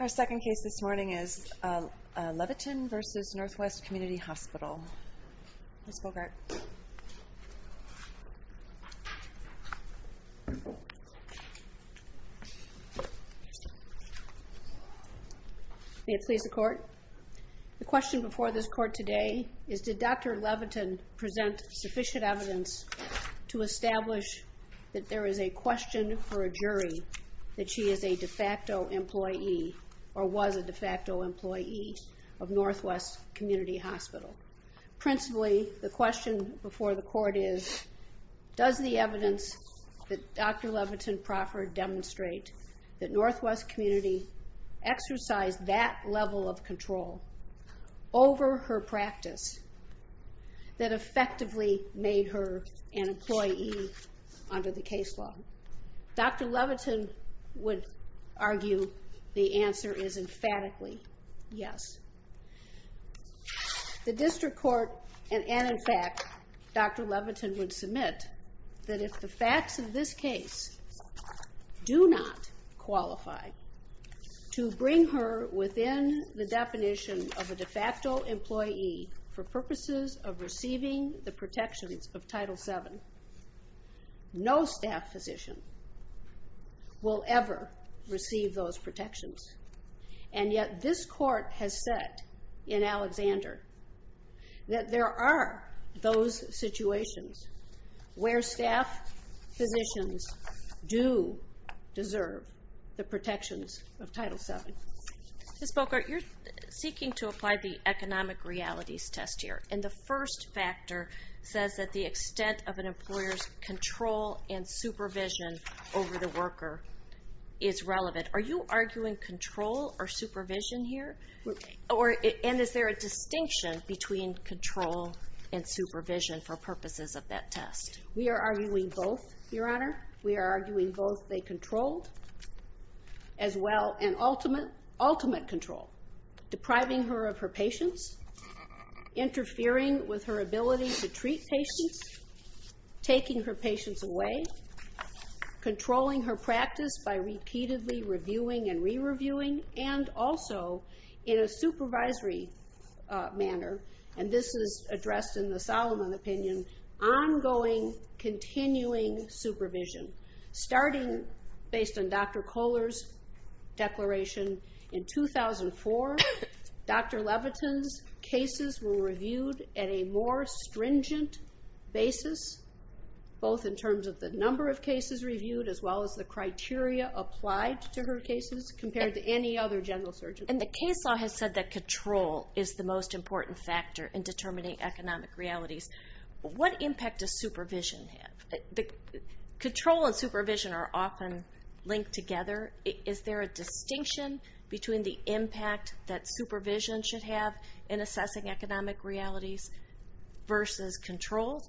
Our second case this morning is Levitin v. Northwest Community Hospital. The question before this court today is did Dr. Levitin present sufficient evidence to establish that there is a question for a jury that she is a de facto employee or was a de Principally, the question before the court is does the evidence that Dr. Levitin-Proffert demonstrate that Northwest Community exercised that level of control over her practice that effectively made her an employee under the case law? Dr. Levitin would argue the answer is emphatically yes. The district court and in fact Dr. Levitin would submit that if the facts of this case do not qualify to bring her within the definition of a de facto employee for purposes of receiving the protections of Title VII, no staff physician will ever receive those protections. And yet this court has said in Alexander that there are those situations where staff physicians do deserve the protections of Title VII. Ms. Boker, you're seeking to apply the economic realities test here and the first factor says that the extent of an employer's control and supervision here? And is there a distinction between control and supervision for purposes of that test? We are arguing both, Your Honor. We are arguing both they controlled as well and ultimate control, depriving her of her patients, interfering with her ability to treat patients, taking her patients away, controlling her practice by repeatedly reviewing and re-reviewing and also in a supervisory manner, and this is addressed in the Solomon opinion, ongoing continuing supervision. Starting based on Dr. Kohler's declaration in 2004, Dr. Levitin's cases were reviewed at a more stringent basis, both in terms of the number of cases reviewed as well as the criteria applied to her cases compared to any other general surgeon. And the case law has said that control is the most important factor in determining economic realities. What impact does supervision have? Control and supervision are often linked together. Is there a distinction between the impact that supervision should have in assessing economic realities versus control?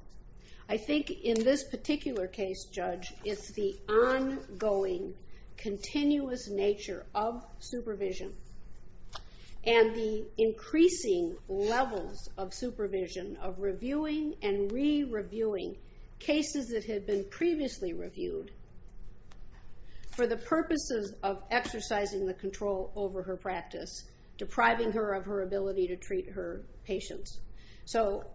I think in this particular case, Judge, it's the ongoing continuous nature of supervision and the increasing levels of supervision of reviewing and re-reviewing cases that had been previously reviewed for the purposes of exercising the control over her practice, depriving her of her ability to treat her patients. So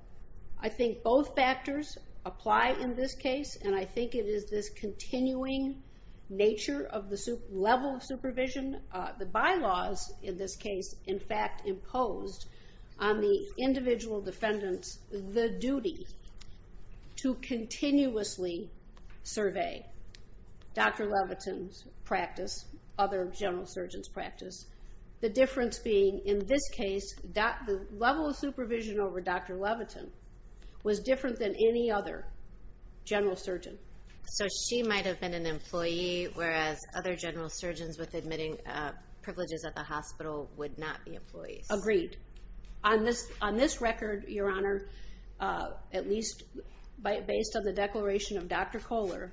I think both factors apply in this case and I think it is this continuing nature of the level of supervision. The bylaws in this case, in fact, imposed on the individual defendants the duty to continuously survey Dr. Levitin's practice, other general surgeons' practice. The difference being in this case, the level of supervision over Dr. Levitin was different than any other general surgeon. So she might have been an employee whereas other general surgeons with admitting privileges at the hospital would not be employees. Agreed. On this record, Your Honor, at least based on the declaration of Dr. Kohler,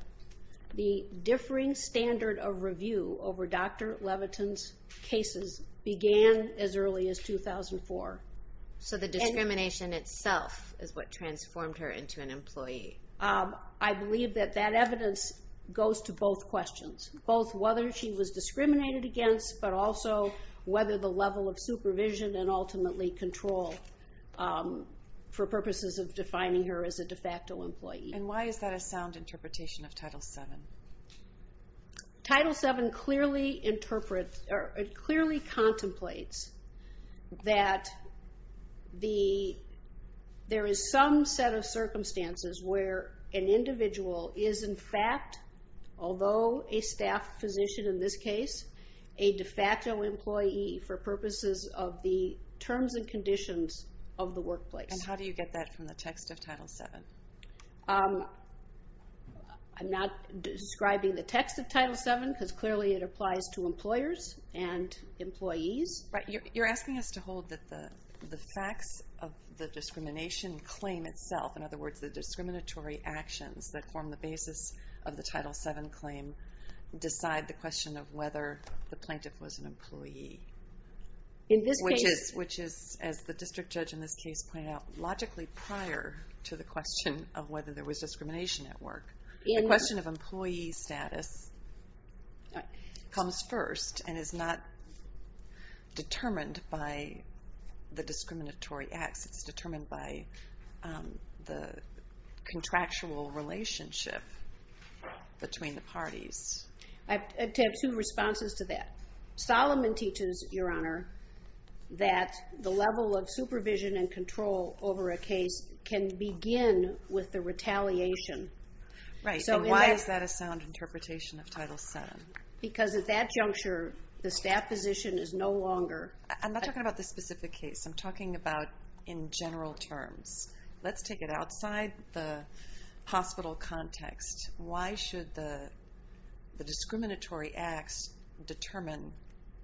the differing standard of review over Dr. Levitin's cases began as early as 2004. So the discrimination itself is what transformed her into an employee. I believe that that evidence goes to both questions, both whether she was discriminated against but also whether the level of supervision and ultimately control for purposes of defining her as a de facto employee. And why is that a sound interpretation of Title VII? Title VII clearly contemplates that there is some set of circumstances where an individual is in fact, although a staff physician in this case, a de facto employee for purposes of the terms and conditions of the workplace. And how do you get that from the text of Title VII? I'm not describing the text of Title VII because clearly it applies to employers and employees. Right. You're asking us to hold that the facts of the discrimination claim itself, in other words, the discriminatory actions that form the basis of the Title VII claim decide the question of whether the plaintiff was an employee. Which is, as the district judge in this case pointed out, logically prior to the question of whether there was discrimination at work. The question of employee status comes first and is not determined by the discriminatory acts. It's determined by the contractual relationship between the parties. I have two responses to that. Solomon teaches, Your Honor, that the level of supervision and control over a case can begin with the retaliation. Right. So why is that a sound interpretation of Title VII? Because at that juncture, the staff physician is no longer... I'm not talking about this specific case. I'm talking about in general terms. Let's take it outside the hospital context. Why should the discriminatory acts determine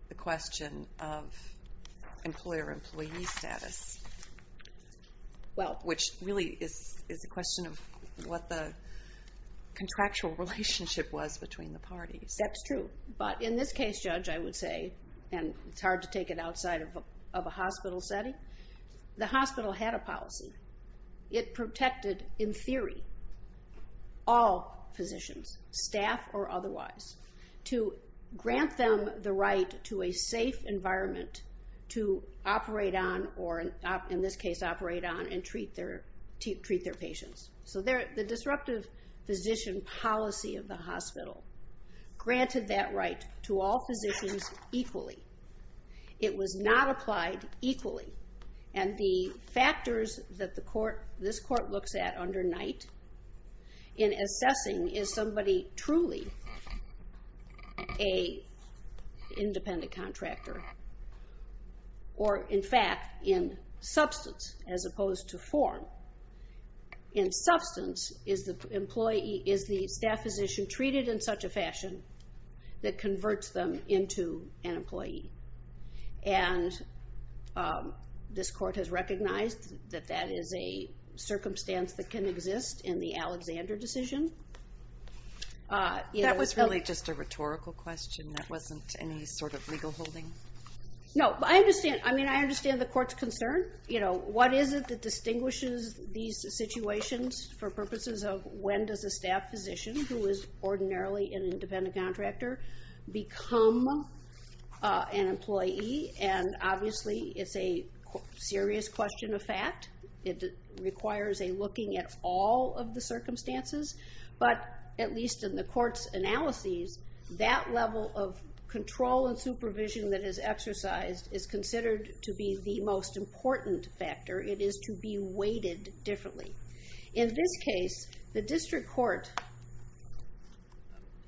the question of employer-employee status? Which really is a question of what the contractual relationship was between the parties. That's true. But in this case, Judge, I would say, and it's hard to take it outside of a hospital setting, the hospital had a policy. It protected, in theory, all physicians, staff or otherwise, to grant them the right to a safe environment to operate on or, in this case, operate on and treat their patients. So the disruptive physician policy of the hospital granted that right to all physicians equally. It was not applied equally. And the factors that this court looks at under Knight in assessing is somebody truly an independent contractor or, in fact, in substance as opposed to form. In substance is the staff physician treated in such a fashion that converts them into an employee? And this court has recognized that that is a circumstance that can exist in the Alexander decision. That was really just a rhetorical question. That wasn't any sort of legal holding? No. I understand the court's concern. What is it that distinguishes these situations for purposes of when does a staff physician who is ordinarily an independent contractor become an employee? And obviously, it's a serious question of fact. It requires a looking at all of the circumstances. But at least in the court's analyses, that level of control and supervision that is exercised is considered to be the most important factor. It is to be weighted differently. In this case, the district court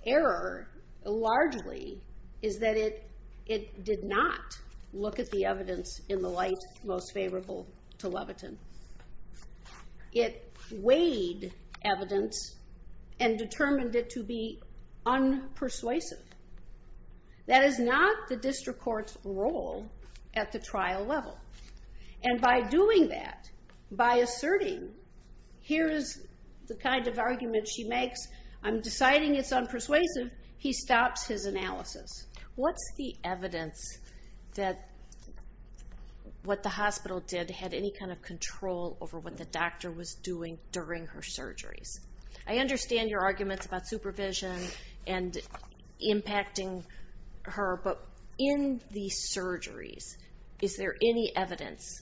error largely is that it did not look at the evidence in the light most favorable to Levitin. It weighed evidence and determined it to be unpersuasive. That is not the case. Here is the kind of argument she makes. I'm deciding it's unpersuasive. He stops his analysis. What's the evidence that what the hospital did had any kind of control over what the doctor was doing during her surgeries? I understand your arguments about supervision and impacting her. But in the surgeries, is there any evidence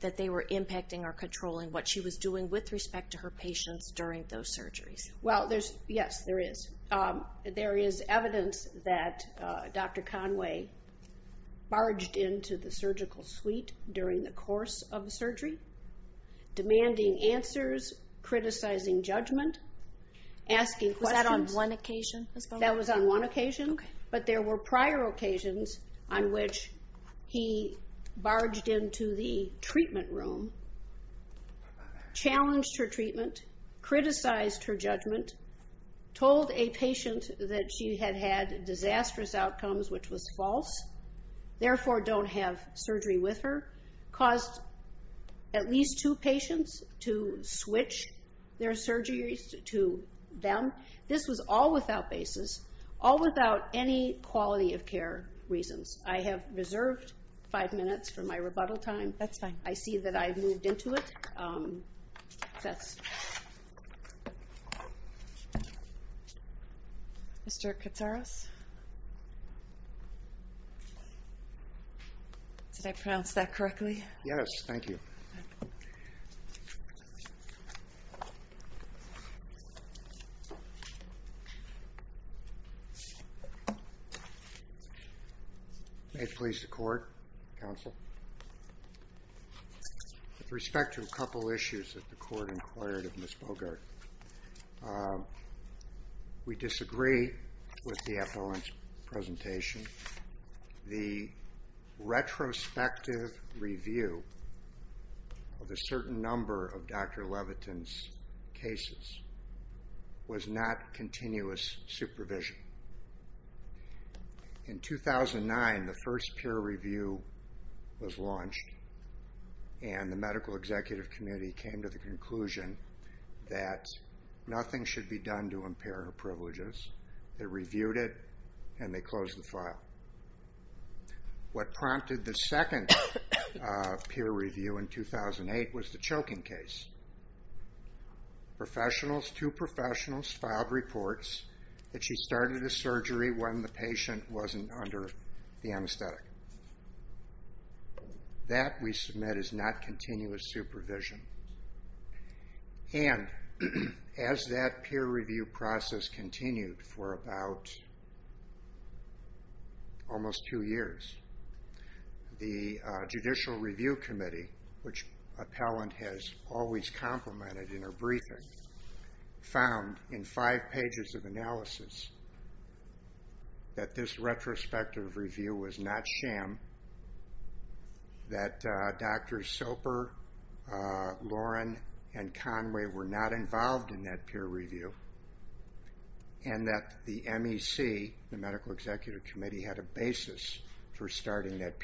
that they were impacting or controlling what she was doing with respect to her patients during those surgeries? Yes, there is. There is evidence that Dr. Conway barged into the surgical suite during the course of the surgery, demanding answers, criticizing judgment, asking questions. Was that on one occasion? That was on one occasion. But there were prior occasions on which he barged into the surgery, challenged her treatment, criticized her judgment, told a patient that she had had disastrous outcomes, which was false, therefore don't have surgery with her, caused at least two patients to switch their surgeries to them. This was all without basis, all without any quality of care reasons. I have reserved five minutes for my rebuttal time. That's fine. I see that I've moved into it. That's... Mr. Katsaros? Did I pronounce that correctly? Yes, thank you. May it please the court, counsel? With respect to a couple of issues that the court inquired of Ms. Bogart, we disagree with the appellant's presentation. The retrospective review of a certain number of Dr. Levitin's cases was not continuous supervision. In 2009, the first peer review was launched, and the medical executive community came to the conclusion that nothing should be done to impair her privileges. They reviewed it, and they closed the file. What prompted the second peer review in 2008 was the choking case. Professionals, two professionals, filed reports that she started the surgery when the patient wasn't under the anesthetic. That, we submit, is not continuous supervision. And, as that peer review process continued for about almost two years, the Judicial Review Committee, which appellant has always complimented in her briefing, found in five pages of analysis that this retrospective review was not sham, that Drs. Soper, Lauren, and Conway were not involved in that peer review, and that the MEC, the Medical Executive Committee, had a basis for starting that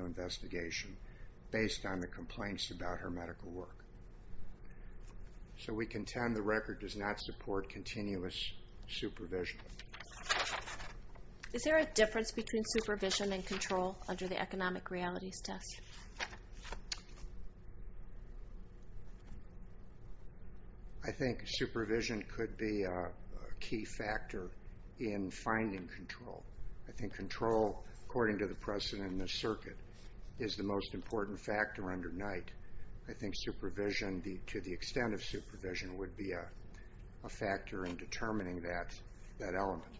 investigation based on the complaints about her medical work. So, we contend the record does not support continuous supervision. Is there a difference between supervision and control under the economic realities test? I think supervision could be a key factor in finding control. I think control, according to the precedent in the circuit, is the most important factor under night. I think supervision, to the extent of supervision, would be a factor in determining that element.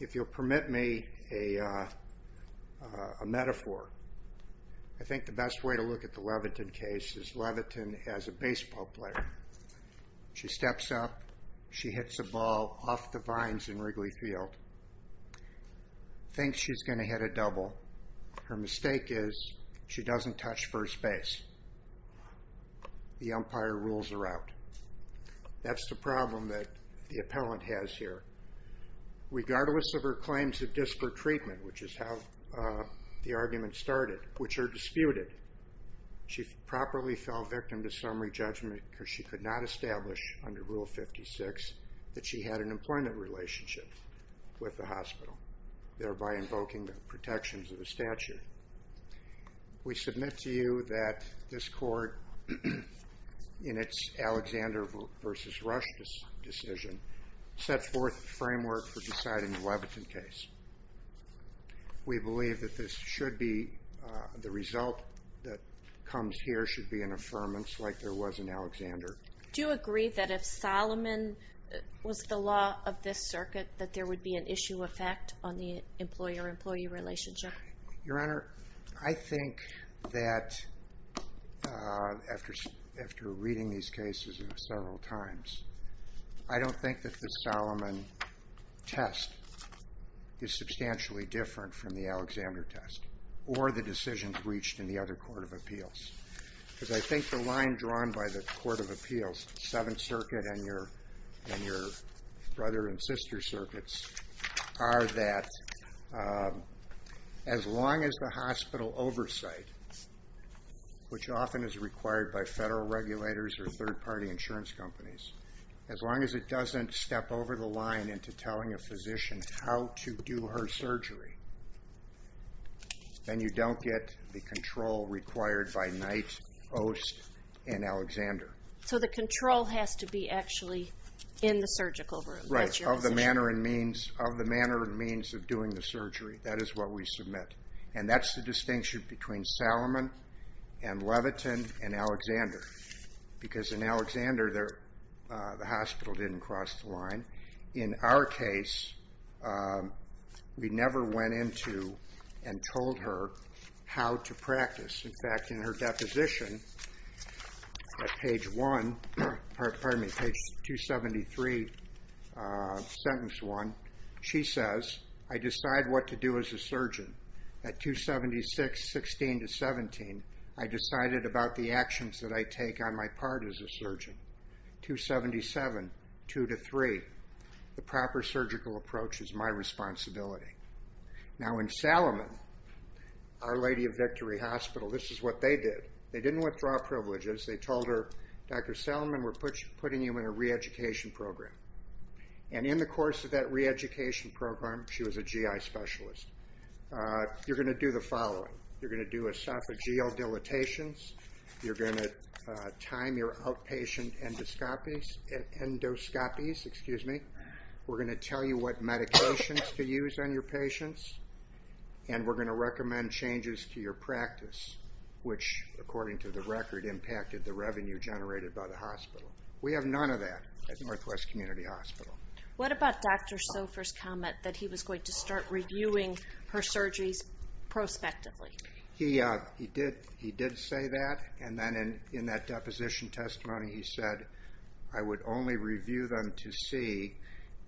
If you'll permit me a metaphor, I think the best way to look at the Leviton case is Leviton as a baseball player. She steps up, she hits the ball off the vines in Wrigley Field, thinks she's going to hit a double. Her mistake is she doesn't touch first base. The umpire rules her out. That's the problem that the appellant has here. Regardless of her claims of disparate treatment, which is how the argument started, which are disputed, she properly fell victim to summary judgment because she could not establish, under Rule 56, that she had an employment relationship with the hospital, thereby invoking the protections of the statute. We submit to you that this court, in its Alexander v. Rush decision, sets forth the framework for deciding the Leviton case. We believe that this should be the result that comes here should be an affirmance like there was in Alexander. Do you agree that if Solomon was the law of this circuit, that there would be an issue effect on the employer-employee relationship? Your Honor, I think that after reading these cases several times, I don't think that the Solomon test is substantially different from the Alexander test or the decisions reached in the other Court of Appeals. I think the line drawn by the Court of Appeals, Seventh Circuit and your brother and sister circuits, are that as long as the hospital oversight, which often is required by federal regulators or third-party insurance companies, as long as it doesn't step over the line into telling a physician how to do her surgery, then you don't get the control required by Knight, Ost, and Alexander. So the control has to be actually in the surgical room? Right. Of the manner and means of doing the surgery. That is what we submit. And that's the distinction between Solomon and Leviton and Alexander. Because in Alexander, the hospital didn't cross the line. In our case, we never went into and told her how to practice. In fact, in her deposition, page 273, sentence 1, she says, I decide what to do as a surgeon. At 276, 16 to 17, I decided about the actions that I take on my part as a surgeon. 277, 2 to 3, the proper surgical approach is my responsibility. Now in Solomon, Our Lady of Victory Hospital, this is what they did. They didn't withdraw privileges. They told her, Dr. Solomon, we're putting you in a re-education program. And in the course of that re-education program, she was a GI specialist. You're going to do the following. You're going to do esophageal dilatations. You're going to time your outpatient endoscopies. We're going to tell you what medications to use on your patients. And we're going to recommend changes to your practice, which according to the record, impacted the revenue generated by the hospital. We have none of that at Northwest Community Hospital. What about Dr. Sofer's comment that he was going to start reviewing her surgeries prospectively? He did say that. And then in that deposition testimony, he said, I would only review them to see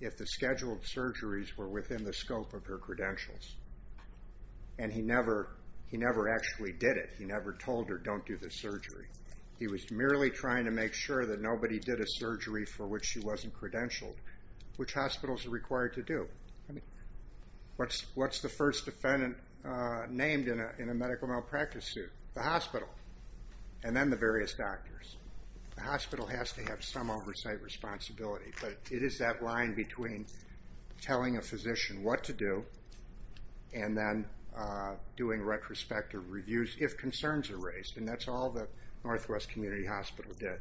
if the scheduled surgeries were within the scope of her credentials. And he never actually did it. He never told her, don't do the surgery. He was merely trying to make sure that nobody did a surgery for which she wasn't credentialed. Which hospitals are required to do? What's the first defendant named in a medical malpractice suit? The hospital. And then the various doctors. The hospital has to have some oversight responsibility. But it is that line between telling a physician what to do and then doing retrospective reviews if concerns are raised. And that's all that Northwest Community Hospital did.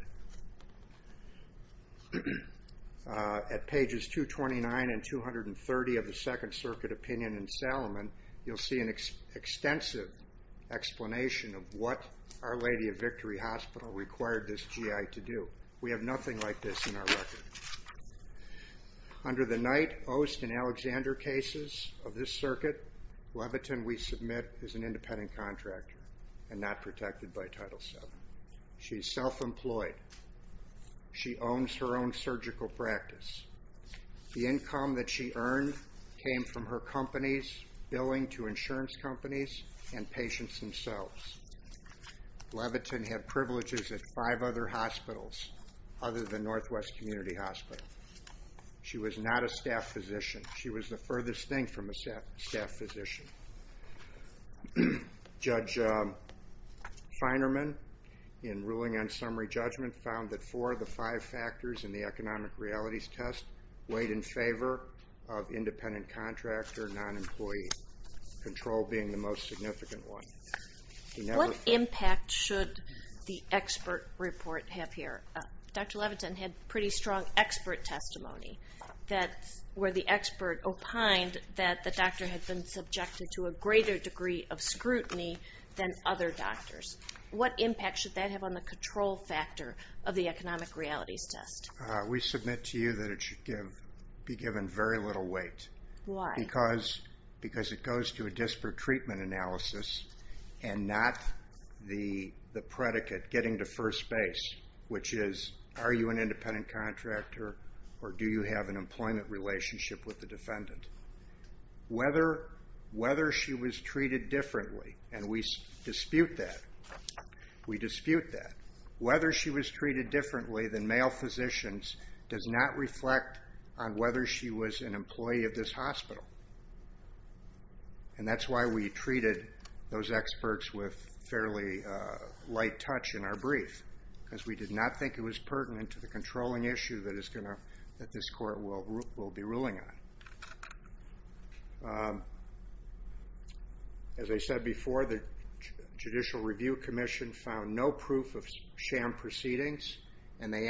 At pages 229 and 230 of the Second Circuit Opinion in Salomon, you'll see an extensive explanation of what Our Lady of Victory Hospital required this GI to do. We have nothing like this in our record. Under the Knight, Ost, and Alexander cases of this circuit, Levitin, we submit, is an independent contractor and not protected by Title VII. She's self-employed. She owns her own surgical practice. The income that she earned came from her company's billing to insurance companies and patients themselves. Levitin had privileges at five other hospitals other than Northwest Community Hospital. She was not a staff physician. She was the furthest thing from a staff physician. Judge Feinerman, in ruling on summary judgment, found that four of the five factors in the economic realities test weighed in favor of independent contractor non-employee control being the most significant one. What impact should the expert report have here? Dr. Levitin had pretty strong expert testimony where the expert opined that the doctor had been subjected to a greater degree of scrutiny than other doctors. What impact should that have on the control factor of the economic realities test? We submit to you that it should be given very little weight. Why? Because it goes to a disparate treatment analysis and not the predicate, getting to first base, which is, are you an independent contractor or do you have an employment relationship with the defendant? Whether she was treated differently, and we dispute that, we dispute that. Whether she was treated differently than male physicians does not reflect on whether she was an employee of this hospital. And that's why we treated those experts with fairly light touch in our brief, because we did not think it was pertinent to the controlling issue that this court will be ruling on. As I said before, the Judicial Review Commission found no proof of sham proceedings and they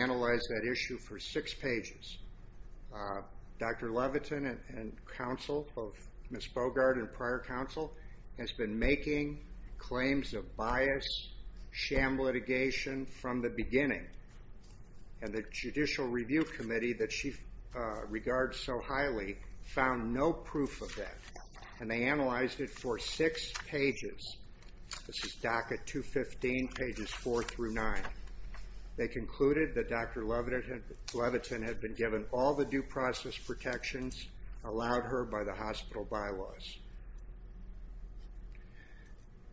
Ms. Bogart and prior counsel has been making claims of bias, sham litigation from the beginning. And the Judicial Review Committee that she regards so highly found no proof of that. And they analyzed it for six pages. This is docket 215 pages four through nine. They concluded that Dr. Levitin had been given all the due process protections, allowed her by the hospital bylaws.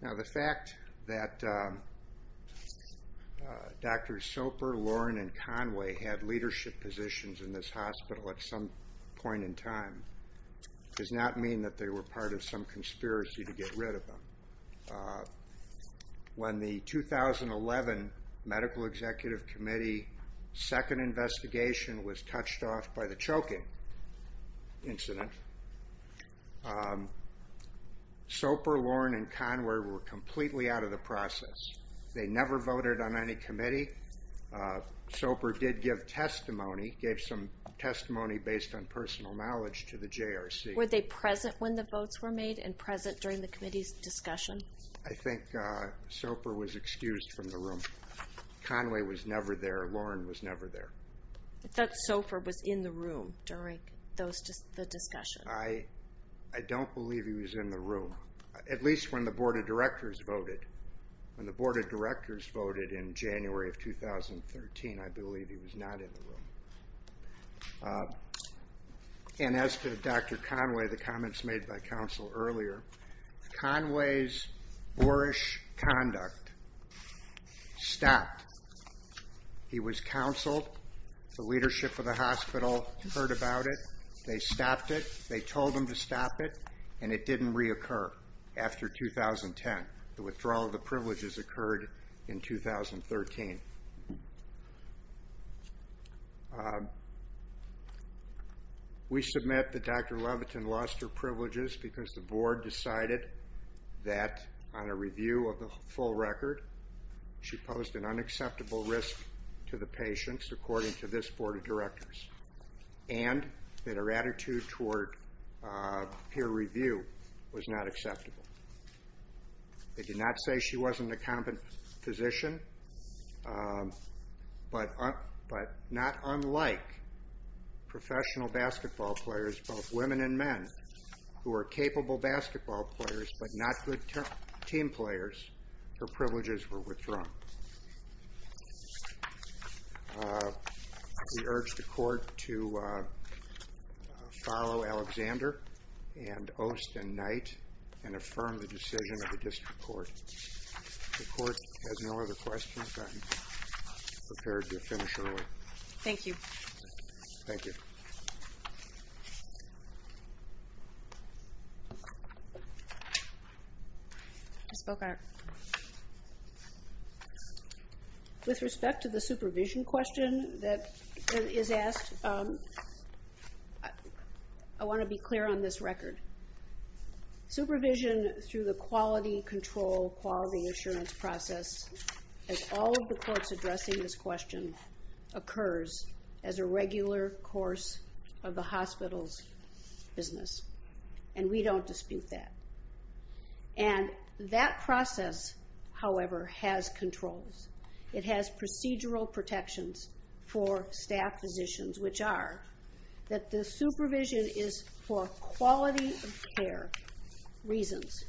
Now the fact that Dr. Soper, Loren, and Conway had leadership positions in this hospital at some point in time does not mean that they were part of some conspiracy to get rid of them. When the 2011 Medical Executive Committee second investigation was touched off by the choking, incident, Soper, Loren, and Conway were completely out of the process. They never voted on any committee. Soper did give testimony, gave some testimony based on personal knowledge to the JRC. Were they present when the votes were made and present during the committee's discussion? I think Soper was excused from the room. Conway was never there. Loren was I don't believe he was in the room, at least when the board of directors voted. When the board of directors voted in January of 2013, I believe he was not in the room. And as to Dr. Conway, the comments made by counsel earlier, Conway's boorish conduct stopped. He was counseled, the leadership of the hospital heard about it, they stopped it, they told him to stop it, and it didn't reoccur after 2010. The withdrawal of the privileges occurred in 2013. We submit that Dr. Levitin lost her privileges because the board decided that on a review of the full record, she posed an unacceptable risk to the patients according to this board of directors, and that her attitude toward peer review was not acceptable. They did not say she wasn't a competent physician, but not unlike professional basketball players, both women and men, who are capable basketball players but not good team players, her privileges were withdrawn. We urge the court to follow Alexander and Oste and Knight, and affirm the decision of the district court. The court has no other questions, I'm prepared to finish early. Thank you. Thank you. I spoke on it. With respect to the supervision question that is asked, I want to be clear on this record. Supervision through the quality control, quality assurance process, as all of the courts addressing this question, occurs as a regular course of the hospital's business, and we don't dispute that. And that process, however, has controls. It has procedural protections for staff physicians, which are that the supervision is for quality of care reasons,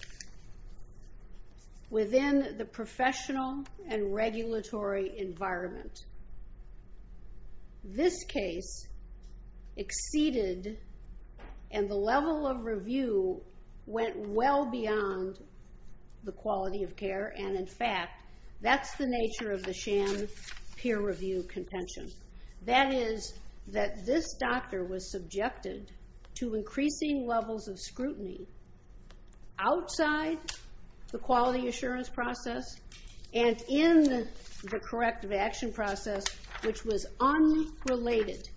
within the professional and regulatory environment. This case exceeded, and the level of review went well beyond the quality of care, and in fact, that's the nature of the sham peer review contention. That is, that this doctor was subjected to increasing levels of scrutiny outside the quality assurance process, and in the corrective action process, which was unrelated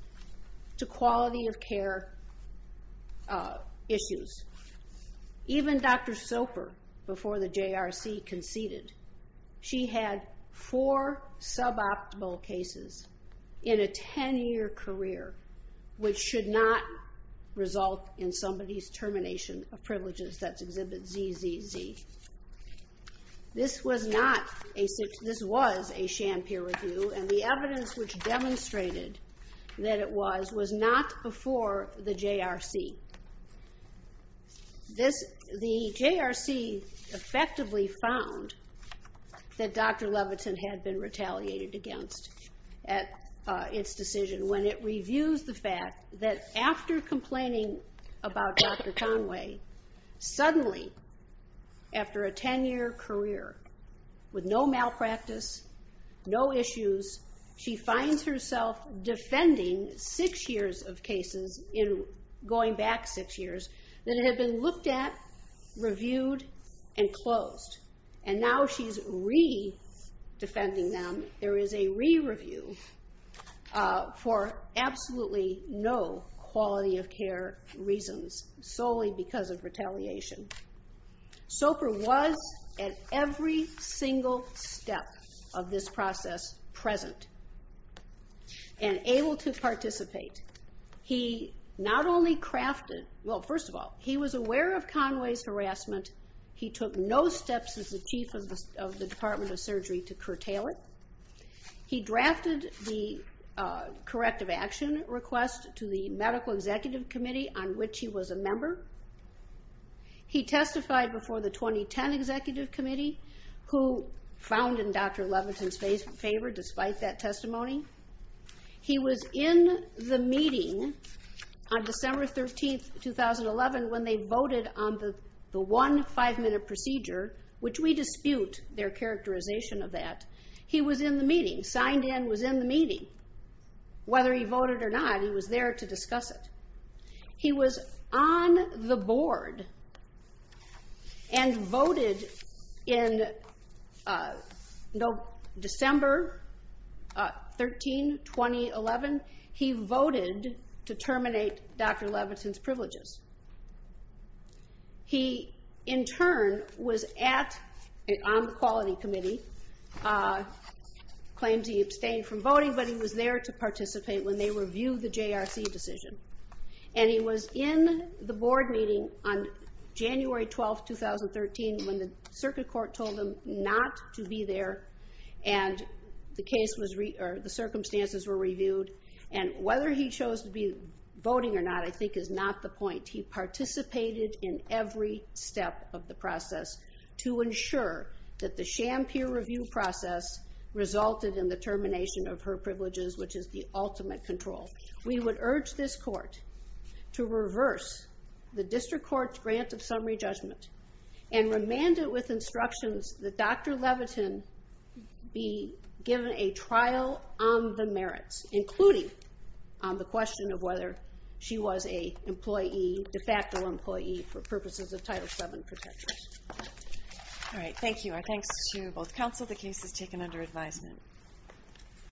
to quality of care issues. Even Dr. Soper, before the JRC conceded, she had four suboptimal cases in a 10-year career, which should not result in somebody's termination of privileges. That's Exhibit ZZZ. This was a sham peer review, and the evidence which demonstrated that it was, was not before the JRC. The JRC effectively found that Dr. Levitin had been retaliated against at its decision, when it reviews the fact that after complaining about Dr. Levitin defending six years of cases, in going back six years, that it had been looked at, reviewed, and closed. And now she's re-defending them. There is a re-review for absolutely no quality of care reasons, solely because of retaliation. Soper was, at every single step of this process, present and able to participate. He not only crafted, well first of all, he was aware of Conway's harassment. He took no steps as the Chief of the Department of Surgery to curtail it. He drafted the corrective action request to the Medical Executive Committee, on which he was a member. He testified before the 2010 Executive Committee, who found in Dr. Levitin's favor, despite that testimony. He was in the meeting on December 13, 2011, when they voted on the one five-minute procedure, which we dispute their characterization of that. He was in the meeting, signed in, was in the meeting. He was there to discuss it. He was on the board and voted in December 13, 2011. He voted to terminate Dr. Levitin's privileges. He, in turn, was on the Quality Committee, and claims he abstained from voting, but he was there to participate when they reviewed the JRC decision. He was in the board meeting on January 12, 2013, when the Circuit Court told him not to be there, and the circumstances were reviewed. Whether he chose to be voting or not, I think, is not the point. He participated in every step of the process to ensure that the Sham Peer Review process resulted in the termination of her privileges, which is the ultimate control. We would urge this Court to reverse the District Court's grant of summary judgment, and remand it with instructions that Dr. Levitin be given a trial on the merits, including the question of whether she was a de facto employee for purposes of Title VII protection. All right. Thank you. Our thanks to both counsel. The case is taken under advisement.